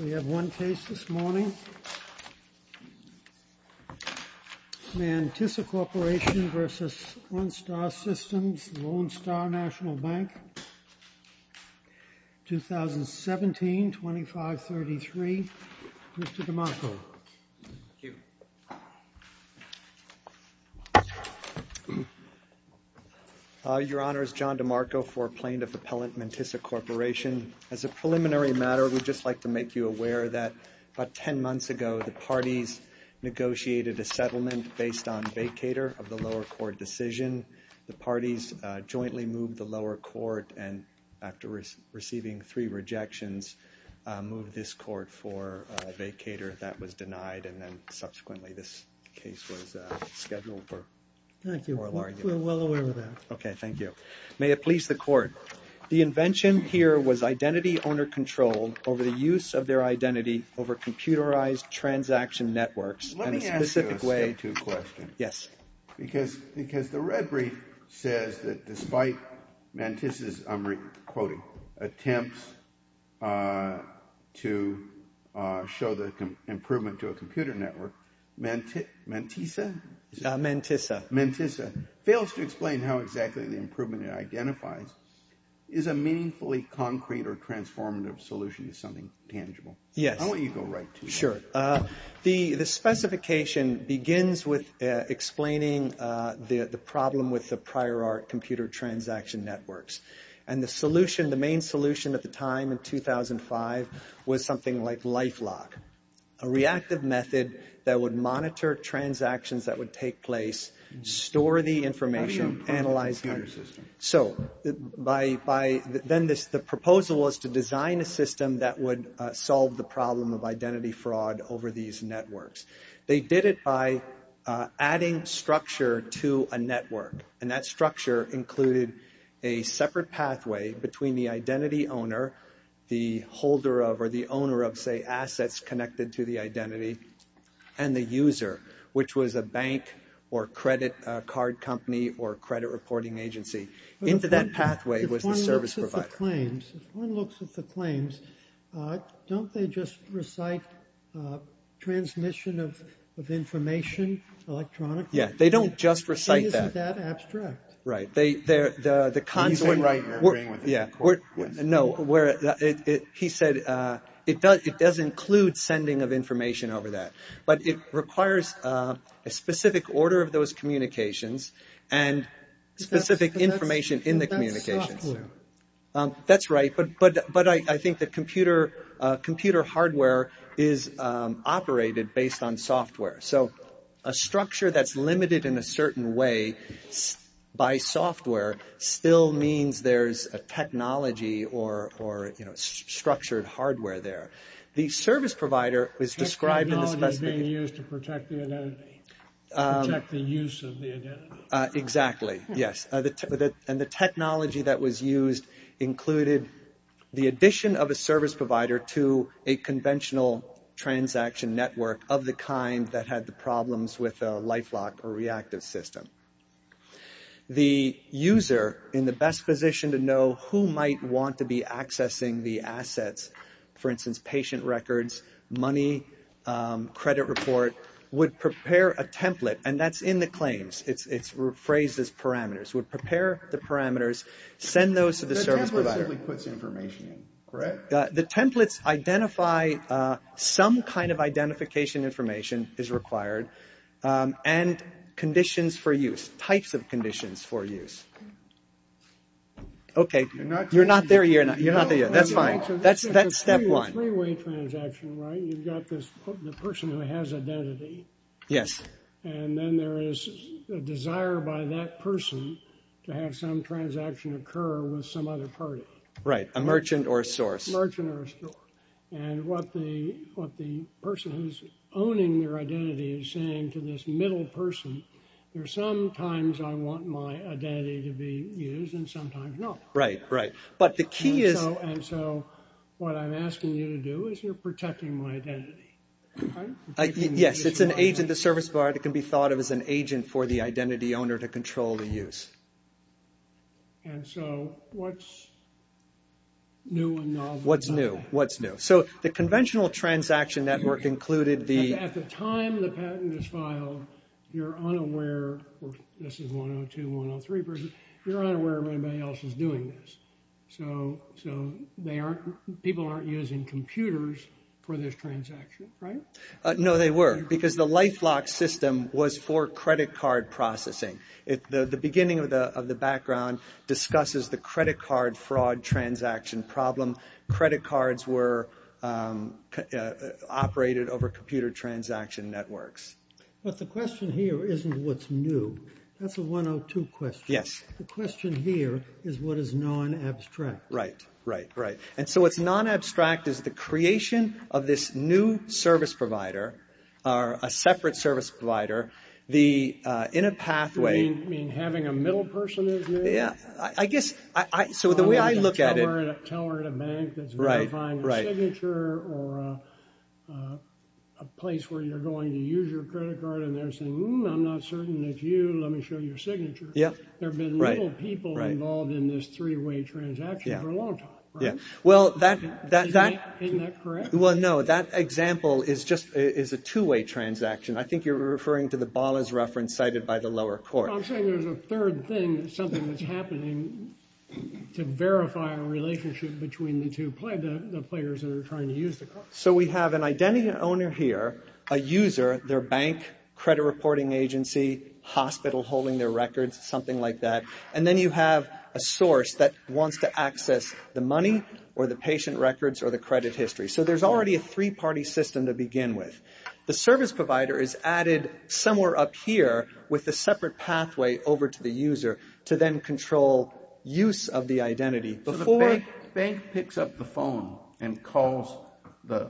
We have one case this morning. Mantissa Corporation v. Ondot Systems, Lone Star National Bank, 2017, 2533. Mr. DeMarco. Your Honor, it's John DeMarco for Plaintiff Appellant Mantissa Corporation. As a preliminary matter, we'd just like to make you aware that about 10 months ago, the parties negotiated a settlement based on vacator of the lower court decision. The parties jointly moved the lower court, and after receiving three rejections, moved this court for a vacator that was denied. And then subsequently, this case was scheduled for oral argument. Thank you. We're well aware of that. Okay, thank you. May it please the Court. The invention here was identity-owner control over the use of their identity over computerized transaction networks in a specific way. I have two questions. Yes. Because the red brief says that despite Mantissa's, I'm quoting, attempts to show the improvement to a computer network, Mantissa fails to explain how exactly the improvement it identifies is a meaningfully concrete or transformative solution to something tangible. Yes. I want you to go right to it. Sure. The specification begins with explaining the problem with the prior art computer transaction networks. And the solution, the main solution at the time, in 2005, was something like LifeLock, a reactive method that would monitor transactions that would take place, store the information, analyze. So by then, the proposal was to design a system that would solve the problem of identity fraud over these networks. They did it by adding structure to a network. And that structure included a separate pathway between the identity owner, the holder of or the owner of, say, assets connected to the identity, and the user, which was a bank or credit card company or credit reporting network. If one looks at the claims, don't they just recite transmission of information electronically? It isn't that abstract. He said it does include sending of information over that. But it requires a specific order of those communications and specific information in the communications. Software. That's right. But I think that computer hardware is operated based on software. So a structure that's limited in a certain way by software still means there's a technology or structured hardware there. Technology being used to protect the identity. To protect the use of the identity. Money, credit report, would prepare a template. And that's in the claims. It's phrased as parameters. Would prepare the parameters, send those to the service provider. The templates identify some kind of identification information is required and conditions for use. Types of conditions for use. Okay. You're not there yet. That's fine. That's step one. Freeway transaction, right? You've got this person who has identity. Yes. And then there is a desire by that person to have some transaction occur with some other party. And what the person who's owning their identity is saying to this middle person, there's sometimes I want my identity to be used and sometimes not. Right, right. But the key is... And so what I'm asking you to do is you're protecting my identity. Yes, it's an agent. The service provider can be thought of as an agent for the identity owner to control the use. And so what's new and novel about that? What's new? What's new? So the conventional transaction network included the... At the time the patent is filed, you're unaware, this is 102, 103 person, you're unaware everybody else is doing this. So they aren't, people aren't using computers for this transaction, right? No, they were, because the LifeLock system was for credit card processing. The beginning of the background discusses the credit card fraud transaction problem. Credit cards were operated over computer transaction networks. But the question here isn't what's new. That's a 102 question. Yes. The question here is what is non-abstract. Right, right, right. And so what's non-abstract is the creation of this new service provider, or a separate service provider, in a pathway... You mean having a middle person? I guess, so the way I look at it... A teller at a bank that's verifying a signature or a place where you're going to use your credit card and they're saying, I'm not certain it's you, let me show you your signature. There have been little people involved in this three-way transaction for a long time, right? Isn't that correct? Well, no, that example is just a two-way transaction. I think you're referring to the Ballas reference cited by the lower court. I'm saying there's a third thing, something that's happening to verify a relationship between the two players that are trying to use the card. So we have an identity owner here, a user, their bank, credit reporting agency, hospital holding their records, something like that. And then you have a source that wants to access the money or the patient records or the credit history. So there's already a three-party system to begin with. The service provider is added somewhere up here with a separate pathway over to the user to then control use of the identity before... ...the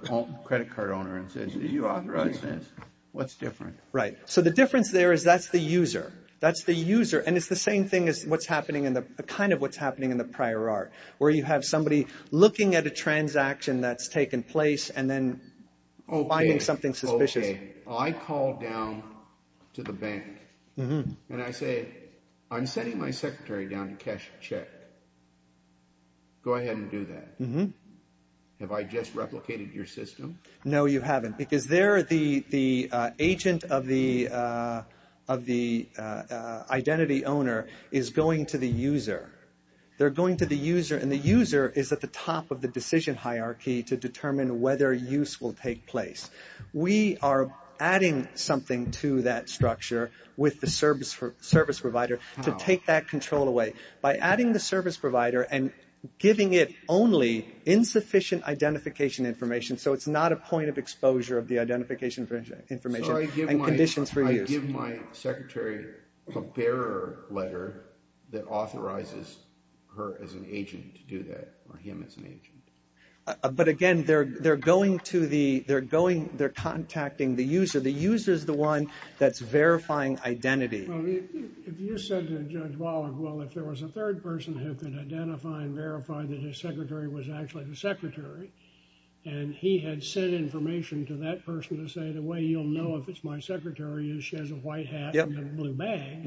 credit card owner and says, do you authorize this? What's different? Right. So the difference there is that's the user. That's the user. And it's the same thing as what's happening in the, kind of what's happening in the prior art, where you have somebody looking at a transaction that's taken place and then finding something suspicious. Okay. I call down to the bank and I say, I'm sending my secretary down to cash a check. Go ahead and do that. Have I just replicated your system? No, you haven't because they're the agent of the identity owner is going to the user. They're going to the user and the user is at the top of the decision hierarchy to determine whether use will take place. We are adding something to that structure with the service provider to take that control away. By adding the service provider and giving it only insufficient identification information, so it's not a point of exposure of the identification information and conditions for use. So I give my secretary a bearer letter that authorizes her as an agent to do that, or him as an agent. But again, they're going to the, they're going, they're contacting the user. The user is the one that's verifying identity. Well, if you said to Judge Waller, well, if there was a third person who could identify and verify that his secretary was actually the secretary, and he had sent information to that person to say, the way you'll know if it's my secretary is she has a white hat and a blue bag,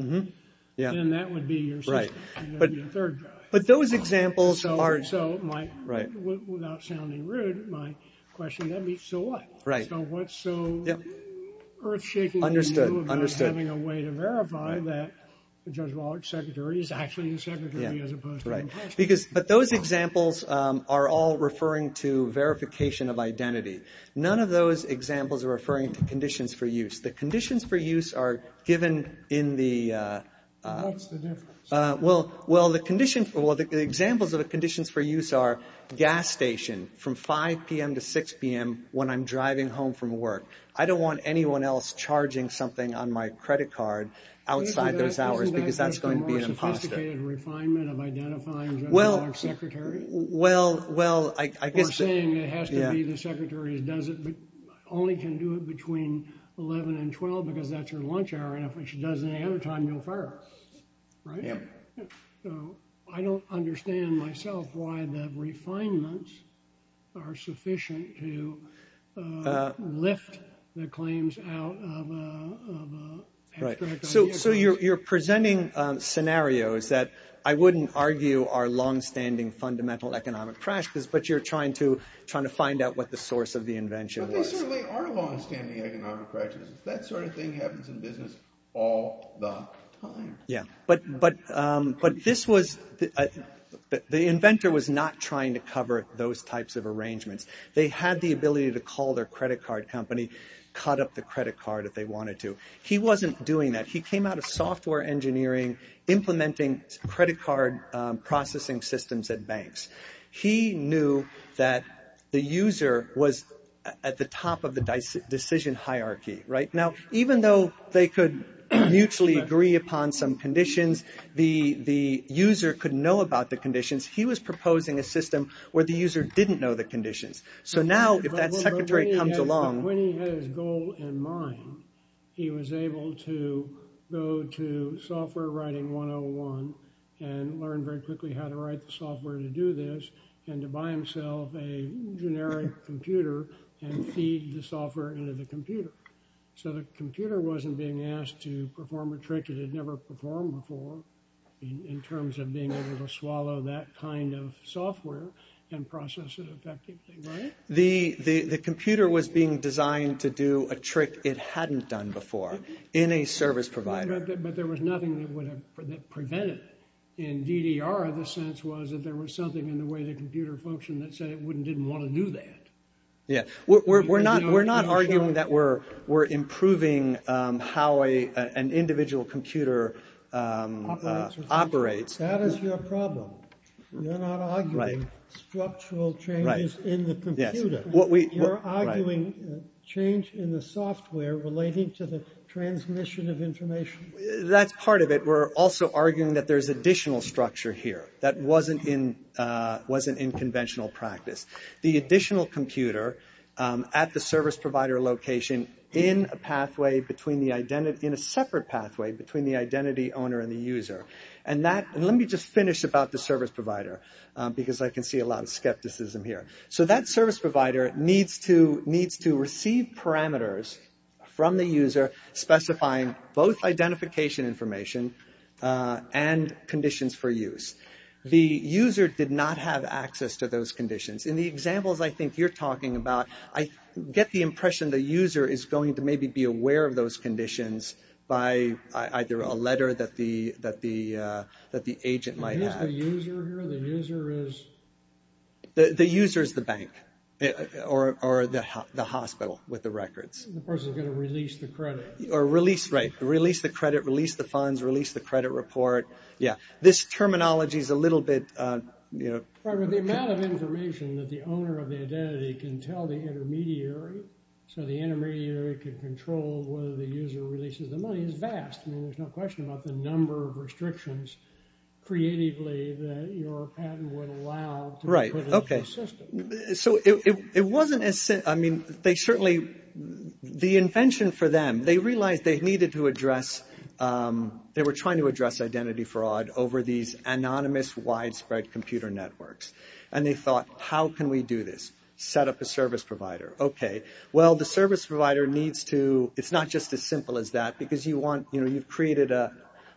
then that would be your third guy. But those examples are... Without sounding rude, my question would be, so what? So what's so earth-shaking to you about having a way to verify that Judge Waller's secretary is actually the secretary as opposed to... But those examples are all referring to verification of identity. None of those examples are referring to conditions for use. The conditions for use are given in the... What's the difference? Well, the examples of the conditions for use are gas station from 5 p.m. to 6 p.m. when I'm driving home from work. I don't want anyone else charging something on my credit card outside those hours because that's going to be an imposter. Isn't that just a more sophisticated refinement of identifying Judge Waller's secretary? Well, I guess... Or saying it has to be the secretary who only can do it between 11 and 12 because that's her lunch hour, and if she doesn't have her time, you'll fire her. Right? So I don't understand myself why the refinements are sufficient to lift the claims out of a... Right. So you're presenting scenarios that I wouldn't argue are long-standing fundamental economic crashes, but you're trying to find out what the source of the invention was. They certainly are long-standing economic crashes. That sort of thing happens in business all the time. Yeah. But this was... The inventor was not trying to cover those types of arrangements. They had the ability to call their credit card company, cut up the credit card if they wanted to. He wasn't doing that. He came out of software engineering, implementing credit card processing systems at banks. He knew that the user was at the top of the decision hierarchy, right? Now, even though they could mutually agree upon some conditions, the user could know about the conditions. He was proposing a system where the user didn't know the conditions. So now, if that secretary comes along... When he had his goal in mind, he was able to go to software writing 101 and learn very quickly how to write the software to do this, and to buy himself a generic computer and feed the software into the computer. So the computer wasn't being asked to perform a trick it had never performed before in terms of being able to swallow that kind of software and process it effectively, right? The computer was being designed to do a trick it hadn't done before in a service provider. But there was nothing that prevented it. In DDR, the sense was that there was something in the way the computer functioned that said it didn't want to do that. Yeah. We're not arguing that we're improving how an individual computer operates. That is your problem. You're not arguing structural changes in the computer. You're arguing change in the software relating to the transmission of information. That's part of it. We're also arguing that there's additional structure here that wasn't in conventional practice. The additional computer at the service provider location in a separate pathway between the identity owner and the user. Let me just finish about the service provider, because I can see a lot of skepticism here. So that service provider needs to receive parameters from the user specifying both identification information and conditions for use. The user did not have access to those conditions. In the examples I think you're talking about, I get the impression the user is going to maybe be aware of those conditions by either a letter that the agent might have. The user is the bank or the hospital with the records. The person is going to release the credit. Right. Release the credit, release the funds, release the credit report. This terminology is a little bit... The amount of information that the owner of the identity can tell the intermediary so the intermediary can control whether the user releases the money is vast. There's no question about the number of restrictions creatively that your patent would allow. Right. Okay. So it wasn't... I mean, they certainly... The invention for them, they realized they needed to address... They were trying to address identity fraud over these anonymous widespread computer networks. And they thought, how can we do this? Set up a service provider. Okay. Well, the service provider needs to... It's as simple as that because you want... You've created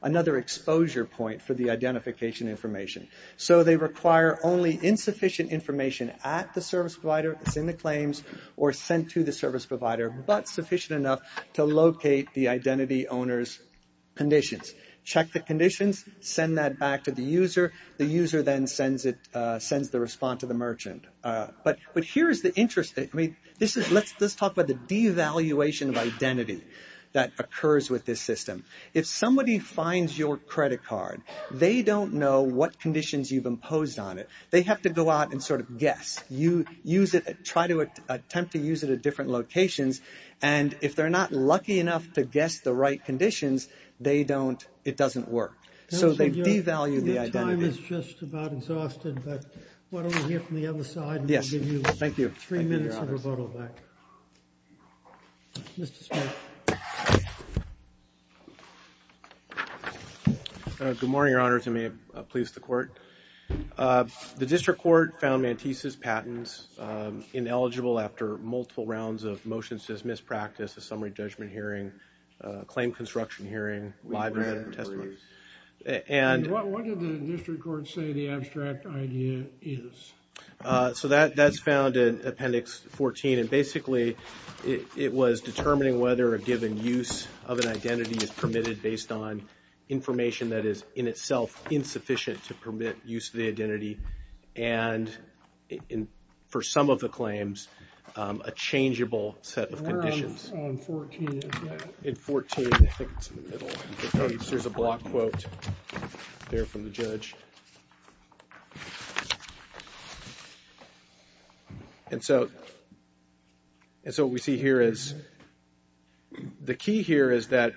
another exposure point for the identification information. So they require only insufficient information at the service provider. It's in the claims or sent to the service provider, but sufficient enough to locate the identity owner's conditions. Check the conditions, send that back to the user. The user then sends the response to the merchant. But here's the interesting... Let's talk about the devaluation of identity that occurs with this system. If somebody finds your credit card, they don't know what conditions you've imposed on it. They have to go out and sort of guess. You use it... Try to attempt to use it at different locations. And if they're not lucky enough to guess the right conditions, they don't... It doesn't work. So they devalue the identity. Your time is just about exhausted, but why don't we hear from the other side? Yes. Thank you. We have three minutes of rebuttal back. Mr. Smith. Good morning, Your Honors. I may have pleased the court. The district court found Mantisa's patents ineligible after multiple rounds of motions dismissed, practice, a summary judgment hearing, a claim construction hearing, live-in testimony. And what did the district court say the abstract idea is? So that's found in Appendix 14. And basically, it was determining whether a given use of an identity is permitted based on information that is in itself insufficient to permit use of the identity. And for some of the claims, a changeable set of conditions. Where on 14 is that? In 14, I think it's in the middle. There's a block quote there from the judge. And so, and so what we see here is, the key here is that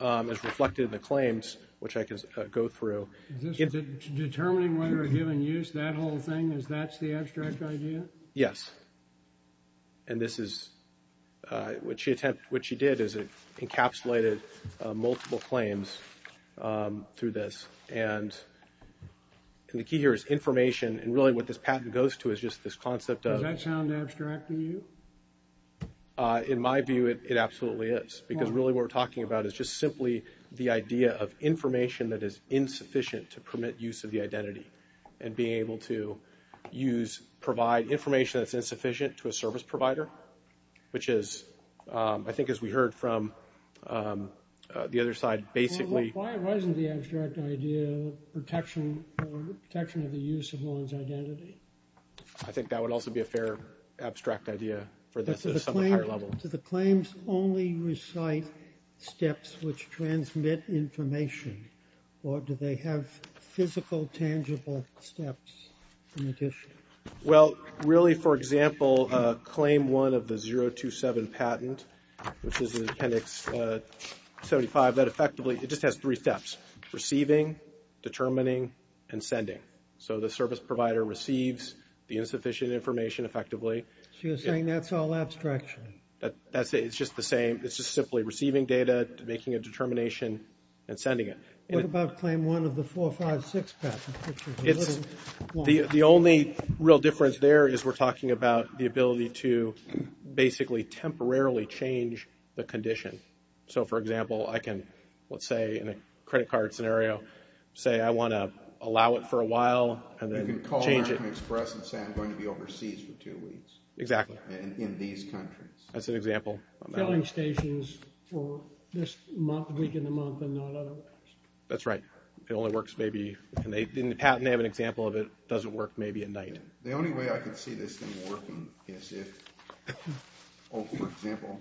it's reflected in the claims, which I can go through. Is this determining whether a given use, that whole thing, is that the abstract idea? Yes. And this is, what she did is it encapsulated multiple claims through this. And the key here is information. And really what this patent goes to is just this concept of. Does that sound abstract to you? In my view, it absolutely is. Because really what we're talking about is just simply the idea of information that is insufficient to permit use of the identity. And being able to use, provide information that's insufficient to a service provider. Which is, I think as we heard from the other side, basically. Why wasn't the abstract idea protection, protection of the use of one's identity? I think that would also be a fair abstract idea for this at a somewhat higher level. Do the claims only recite steps which transmit information? Or do they have physical, tangible steps in addition? Well, really for example, claim one of the 027 patent, which is in appendix 75, that effectively, it just has three steps. Receiving, determining, and sending. So the service provider receives the insufficient information effectively. So you're saying that's all abstraction? It's just the same. It's just simply receiving data, making a determination, and sending it. What about claim one of the 456 patent? The only real difference there is we're talking about the ability to basically temporarily change the condition. So for example, I can, let's say, in a credit card scenario, say I want to allow it for a while, and then change it. You can call American Express and say I'm going to be overseas for two weeks. Exactly. In these countries. That's an example. Filling stations for this week in the month and not otherwise. That's right. It only works maybe, in the patent they have an example of it, it doesn't work maybe at night. The only way I can see this thing working is if, for example,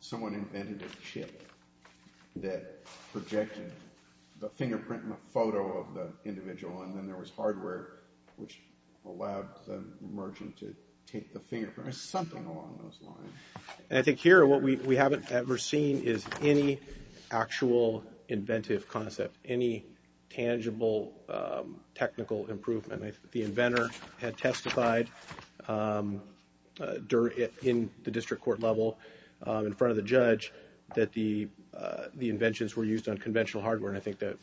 someone invented a chip that projected the fingerprint in the photo of the individual and then there was hardware which allowed the merchant to take the fingerprint. There's something along those lines. And I think here, what we haven't ever seen is any actual inventive concept, any tangible technical improvement. The inventor had testified in the district court level in front of the judge that the inventions were used on conventional hardware and I think that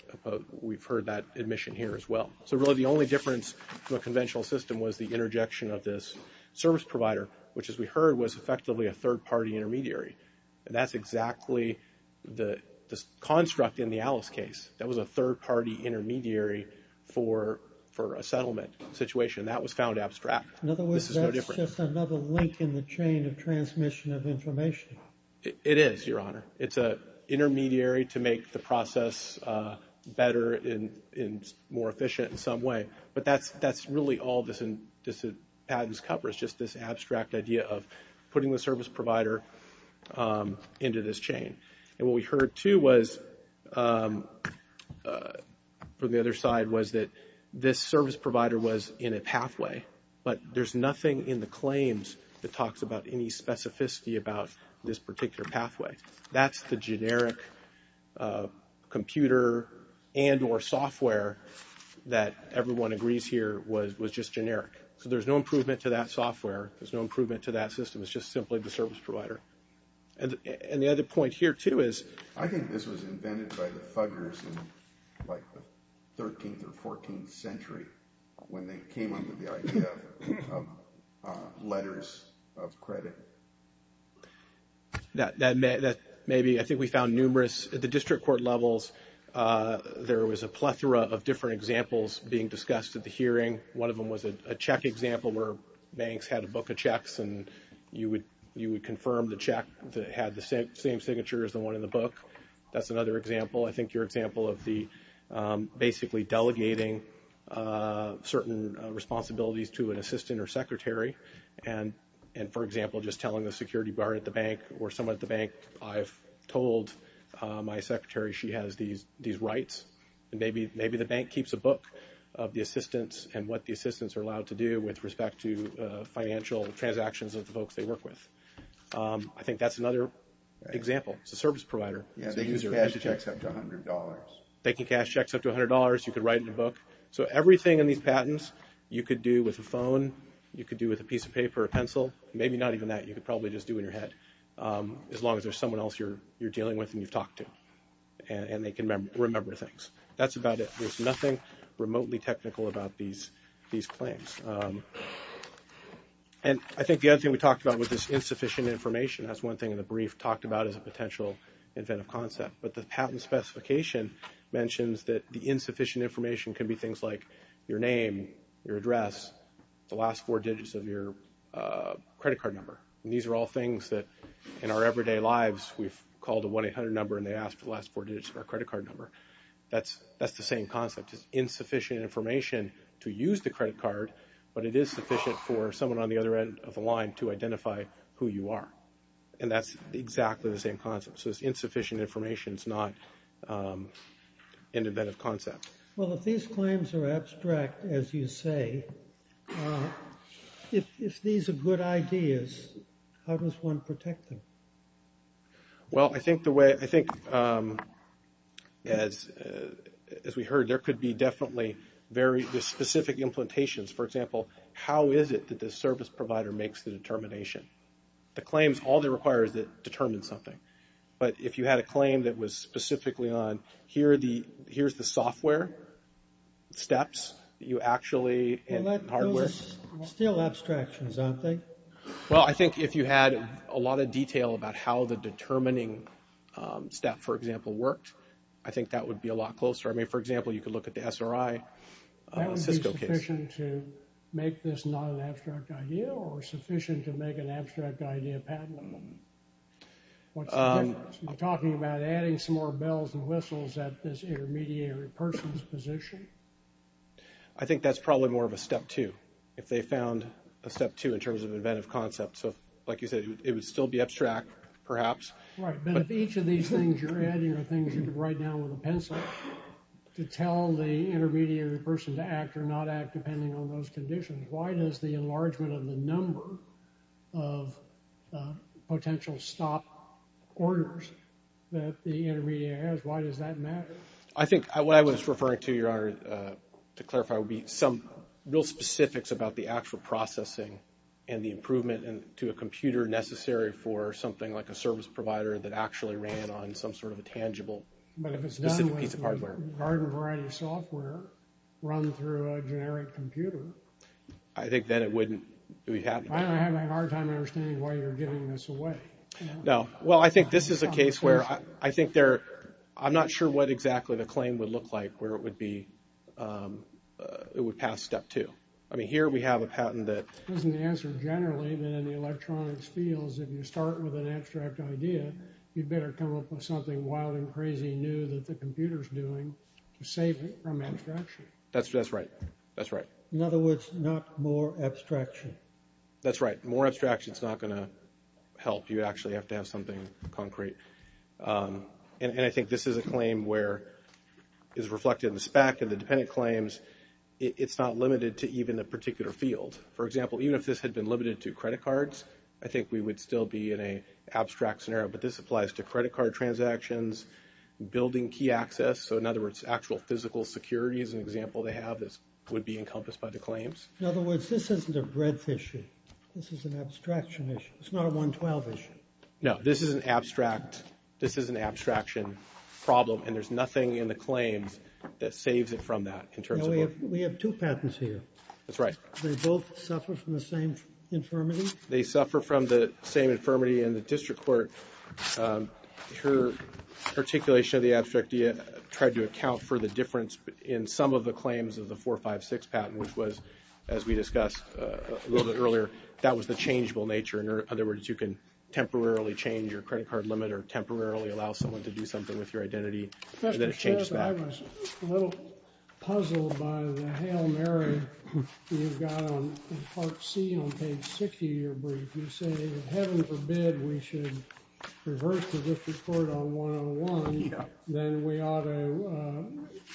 we've heard that admission here as well. So really the only difference from a conventional system was the interjection of this service provider which as we heard was effectively a third party intermediary. And that's exactly the construct in the Alice case. That was a third party intermediary for a settlement situation and that was found abstract. In other words, that's just another link in the chain of transmission of information. It is, Your Honor. It's an intermediary to make the process better and more efficient in some way. But that's really all this patent covers. Just this abstract idea of putting the service provider into this chain. And what we heard too was from the other side was that this service provider was in a pathway but there's nothing in the claims that talks about any specificity about this particular pathway. That's the generic computer and or software that everyone agrees here was just generic. So there's no improvement to that software. There's no improvement to that system. It's just simply the service provider. And the other point here too is I think this was invented by the thuggers in like the 13th or 14th century when they came up with the idea of letters of credit that maybe I think we found numerous at the district court levels there was a plethora of different examples being discussed at the hearing. One of them was a check example where banks had a book of checks and you would confirm the check that had the same signature as the one in the book. That's another example. I think your example of the basically delegating certain responsibilities to an assistant or secretary and for example just telling the security guard at the bank or someone at the bank I've told my secretary she has these rights and maybe the bank keeps a book of the assistants and what the assistants are allowed to do with respect to financial transactions of the folks they work with. I think that's another example. It's a service provider. They use cash checks up to $100. They can cash checks up to $100. You can write in a book. So everything in these patents you could do with a phone. You could do with a piece of paper or a pencil. Maybe not even that. You could probably just do it in your head as long as there's someone else you're dealing with and you've talked to and they can remember things. That's about it. There's nothing remotely technical about these claims. And I think the other thing we talked about was this insufficient information. That's one thing in the brief talked about as a potential inventive concept but the patent specification mentions that the insufficient information can be things like your name, your address, the last four digits of your credit card number. And these are all things that in our everyday lives we've called a 1-800 number and they asked the last four digits of our credit card number. That's the same concept. It's insufficient information to use the credit card but it is sufficient for someone on the other end of the line to identify who you are. And that's exactly the same concept. So it's insufficient information. It's not an inventive concept. Well, if these claims are abstract as you say, if these are good ideas, how does one protect them? Well, I think the way, I think as we heard, there could be definitely very specific implementations. For example, how is it that the service provider makes the determination? The claims, all they require is that it determines something. But if you had a claim that was specifically on here's the software steps that you actually in hardware Well, those are still abstractions, aren't they? Well, I think if you had a lot of detail about how the determining step, for example, worked, I think that would be a lot closer. I mean, for example, you could look at the SRI Cisco case. That would be sufficient to make this not an abstract idea or sufficient to make an abstract idea patentable? What's the difference? You're talking about adding some more bells and whistles at this intermediary person's position? I think that's probably more of a step two. If they found a step two in terms of inventive concepts, like you said, it would still be abstract, perhaps. Right, but if each of these things you're adding are things you could write down with a pencil to tell the intermediary person to act or not act depending on those conditions, why does the enlargement of the number of potential stop orders that the intermediary has, why does that matter? I think what I was referring to, Your Honor, to clarify, would be some real specifics about the actual the improvement to a computer necessary for something like a service provider that actually ran on some sort of a tangible specific piece of hardware. But if it's done with garden variety software run through a generic computer, I think then it wouldn't be happening. I'm having a hard time understanding why you're giving this away. No. Well, I think this is a case where I think there, I'm not sure what exactly the claim would look like where it would be, it would pass step two. I mean, here we have a patent that doesn't answer generally, but in the electronics fields, if you start with an abstract idea, you'd better come up with something wild and crazy new that the computer is doing to save it from abstraction. That's right. That's right. In other words, not more abstraction. That's right. More abstraction is not going to help. You actually have to have something concrete. And I think this is a claim where it's reflected in the spec and the dependent claims. Because it's not limited to even the particular field. For example, even if this had been limited to credit cards, I think we would still be in an abstract scenario. But this applies to credit card transactions, building key access, so in other words, actual physical security is an example they have that would be encompassed by the claims. In other words, this isn't a breadth issue. This is an abstraction issue. It's not a 112 issue. No. This is an abstraction problem and there's nothing in the claims that saves it from that. We have two patents here. That's right. They both suffer from the same infirmity? They suffer from the same infirmity in the district court. And her articulation of the abstract tried to account for the difference in some of the claims of the 456 patent, which was, as we discussed a little bit earlier, that was the changeable nature. In other words, you can temporarily change your credit card limit or temporarily allow someone to do something with your identity and then it changes back. A little puzzle by the Hail Mary you've got on part C on page 60 of your brief. You say, heaven forbid, we should reverse the district court on 101, then we ought to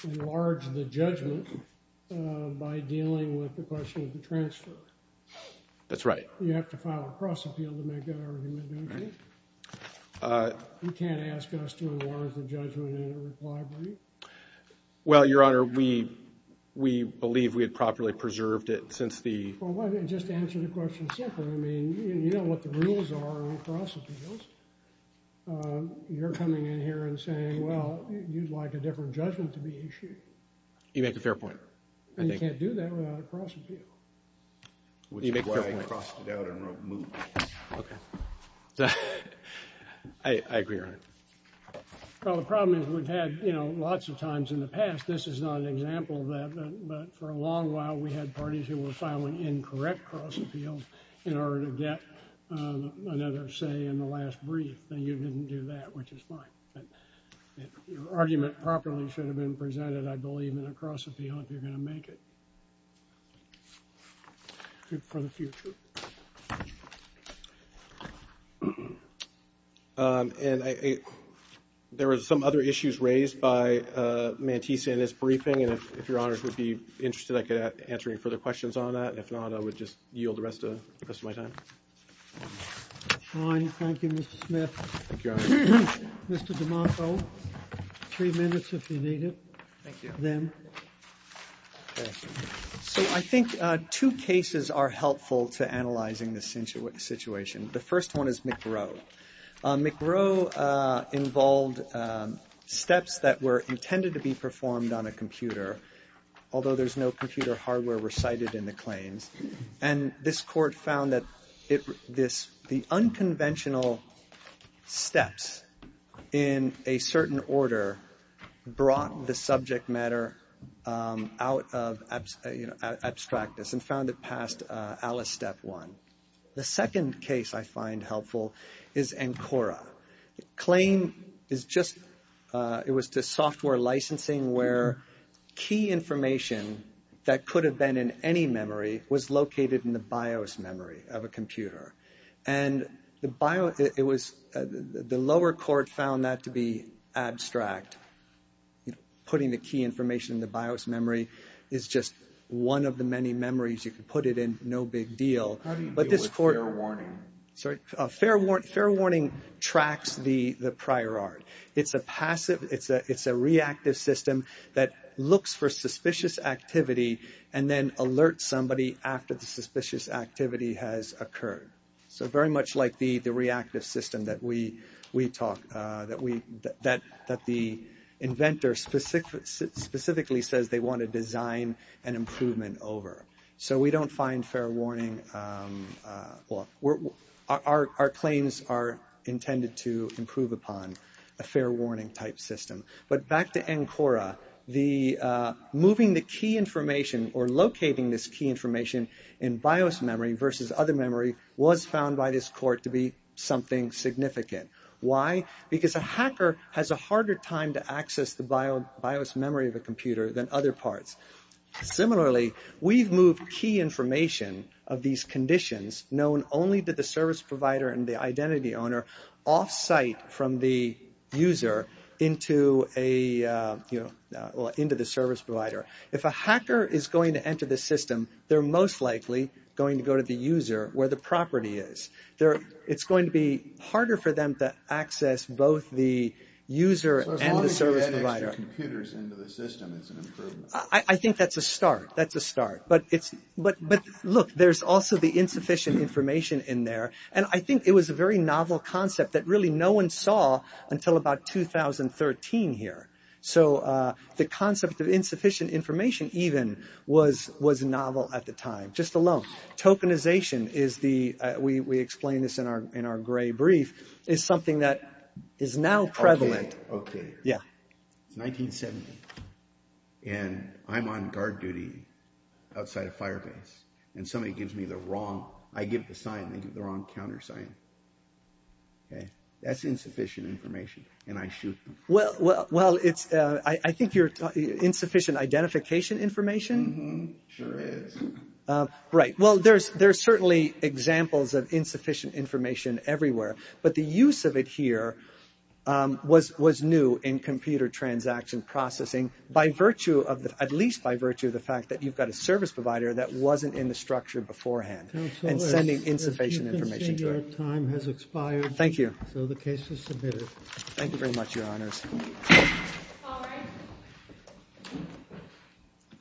enlarge the judgment by dealing with the question of the transfer. That's right. You have to file a cross appeal to make that argument, don't you? You can't ask us to enlarge the judgment in a required way. Well, Your Honor, we believe we had properly preserved it since the Well, just answer the question simply. I mean, you know what the rules are on cross appeals. You're coming in here and saying, well, you'd like a different judgment to be issued. You make a fair point. And you can't do that without a cross appeal. Which is why I crossed it out and wrote move. I agree, Your Honor. Well, the problem is we've had, you know, lots of times in the past. This is not an example of that, but for a long time, we've had this argument properly should have been presented, I believe, in a cross appeal if you're going to make it for the future. And there were some other issues raised by Mantisa in his briefing, and if Your Honor would be interested, I could answer any further questions on that. If not, I would just yield the rest of my Fine, thank you, Mr. Smith. Thank you, Your Honor. Mr. DeMarco, three minutes if you need it. Thank you. So I think two cases are helpful to analyzing this situation. The first one is McGrow. McGrow involved steps that were intended to be performed on a computer, although there's no computer hardware recited in the claims, and this court found that the unconventional steps in a certain order brought the subject matter out of, you know, abstractness, and found it past Alice Step 1. The second case I find helpful is Ancora. The claim is just it was to software licensing where key information that could have been in any memory was located in the BIOS memory of a computer, and the lower court found that to be abstract. Putting the key information in the BIOS memory is just one of the many memories you can put it in, and it's no big deal. Fair warning tracks the prior art. It's a passive, it's a reactive system that looks for suspicious activity and then alerts somebody after the suspicious activity has occurred. So very much like the reactive system that we talk, that the inventor specifically says they want to design an environment where the key information is located in the BIOS memory versus other memory was found by this court to be something significant. Why? Because a hacker has a harder time to access the BIOS memory of a computer than other parts. Similarly, we've moved key information of these conditions known only to the service provider and the identity owner off site from the user into a, you know, into the service provider. If a hacker is going to enter the system, they're most likely going to go to the user where the property is. It's going to be harder for the user BIOS memory of the the other parts of the system. So, that's a start. But, look, there's also the insufficient information in there. And I think it was a very well covered example outside of Firebase and I give the wrong sign, they give the wrong counter sign. That's insufficient information and I shoot them. Well, I think your insufficient identification information, right? Well, there's certainly examples of insufficient information everywhere, but the use of it here was new in computer transaction processing by virtue of the fact that you've got a service provider that wasn't in the structure beforehand. Thank you. Thank you very much,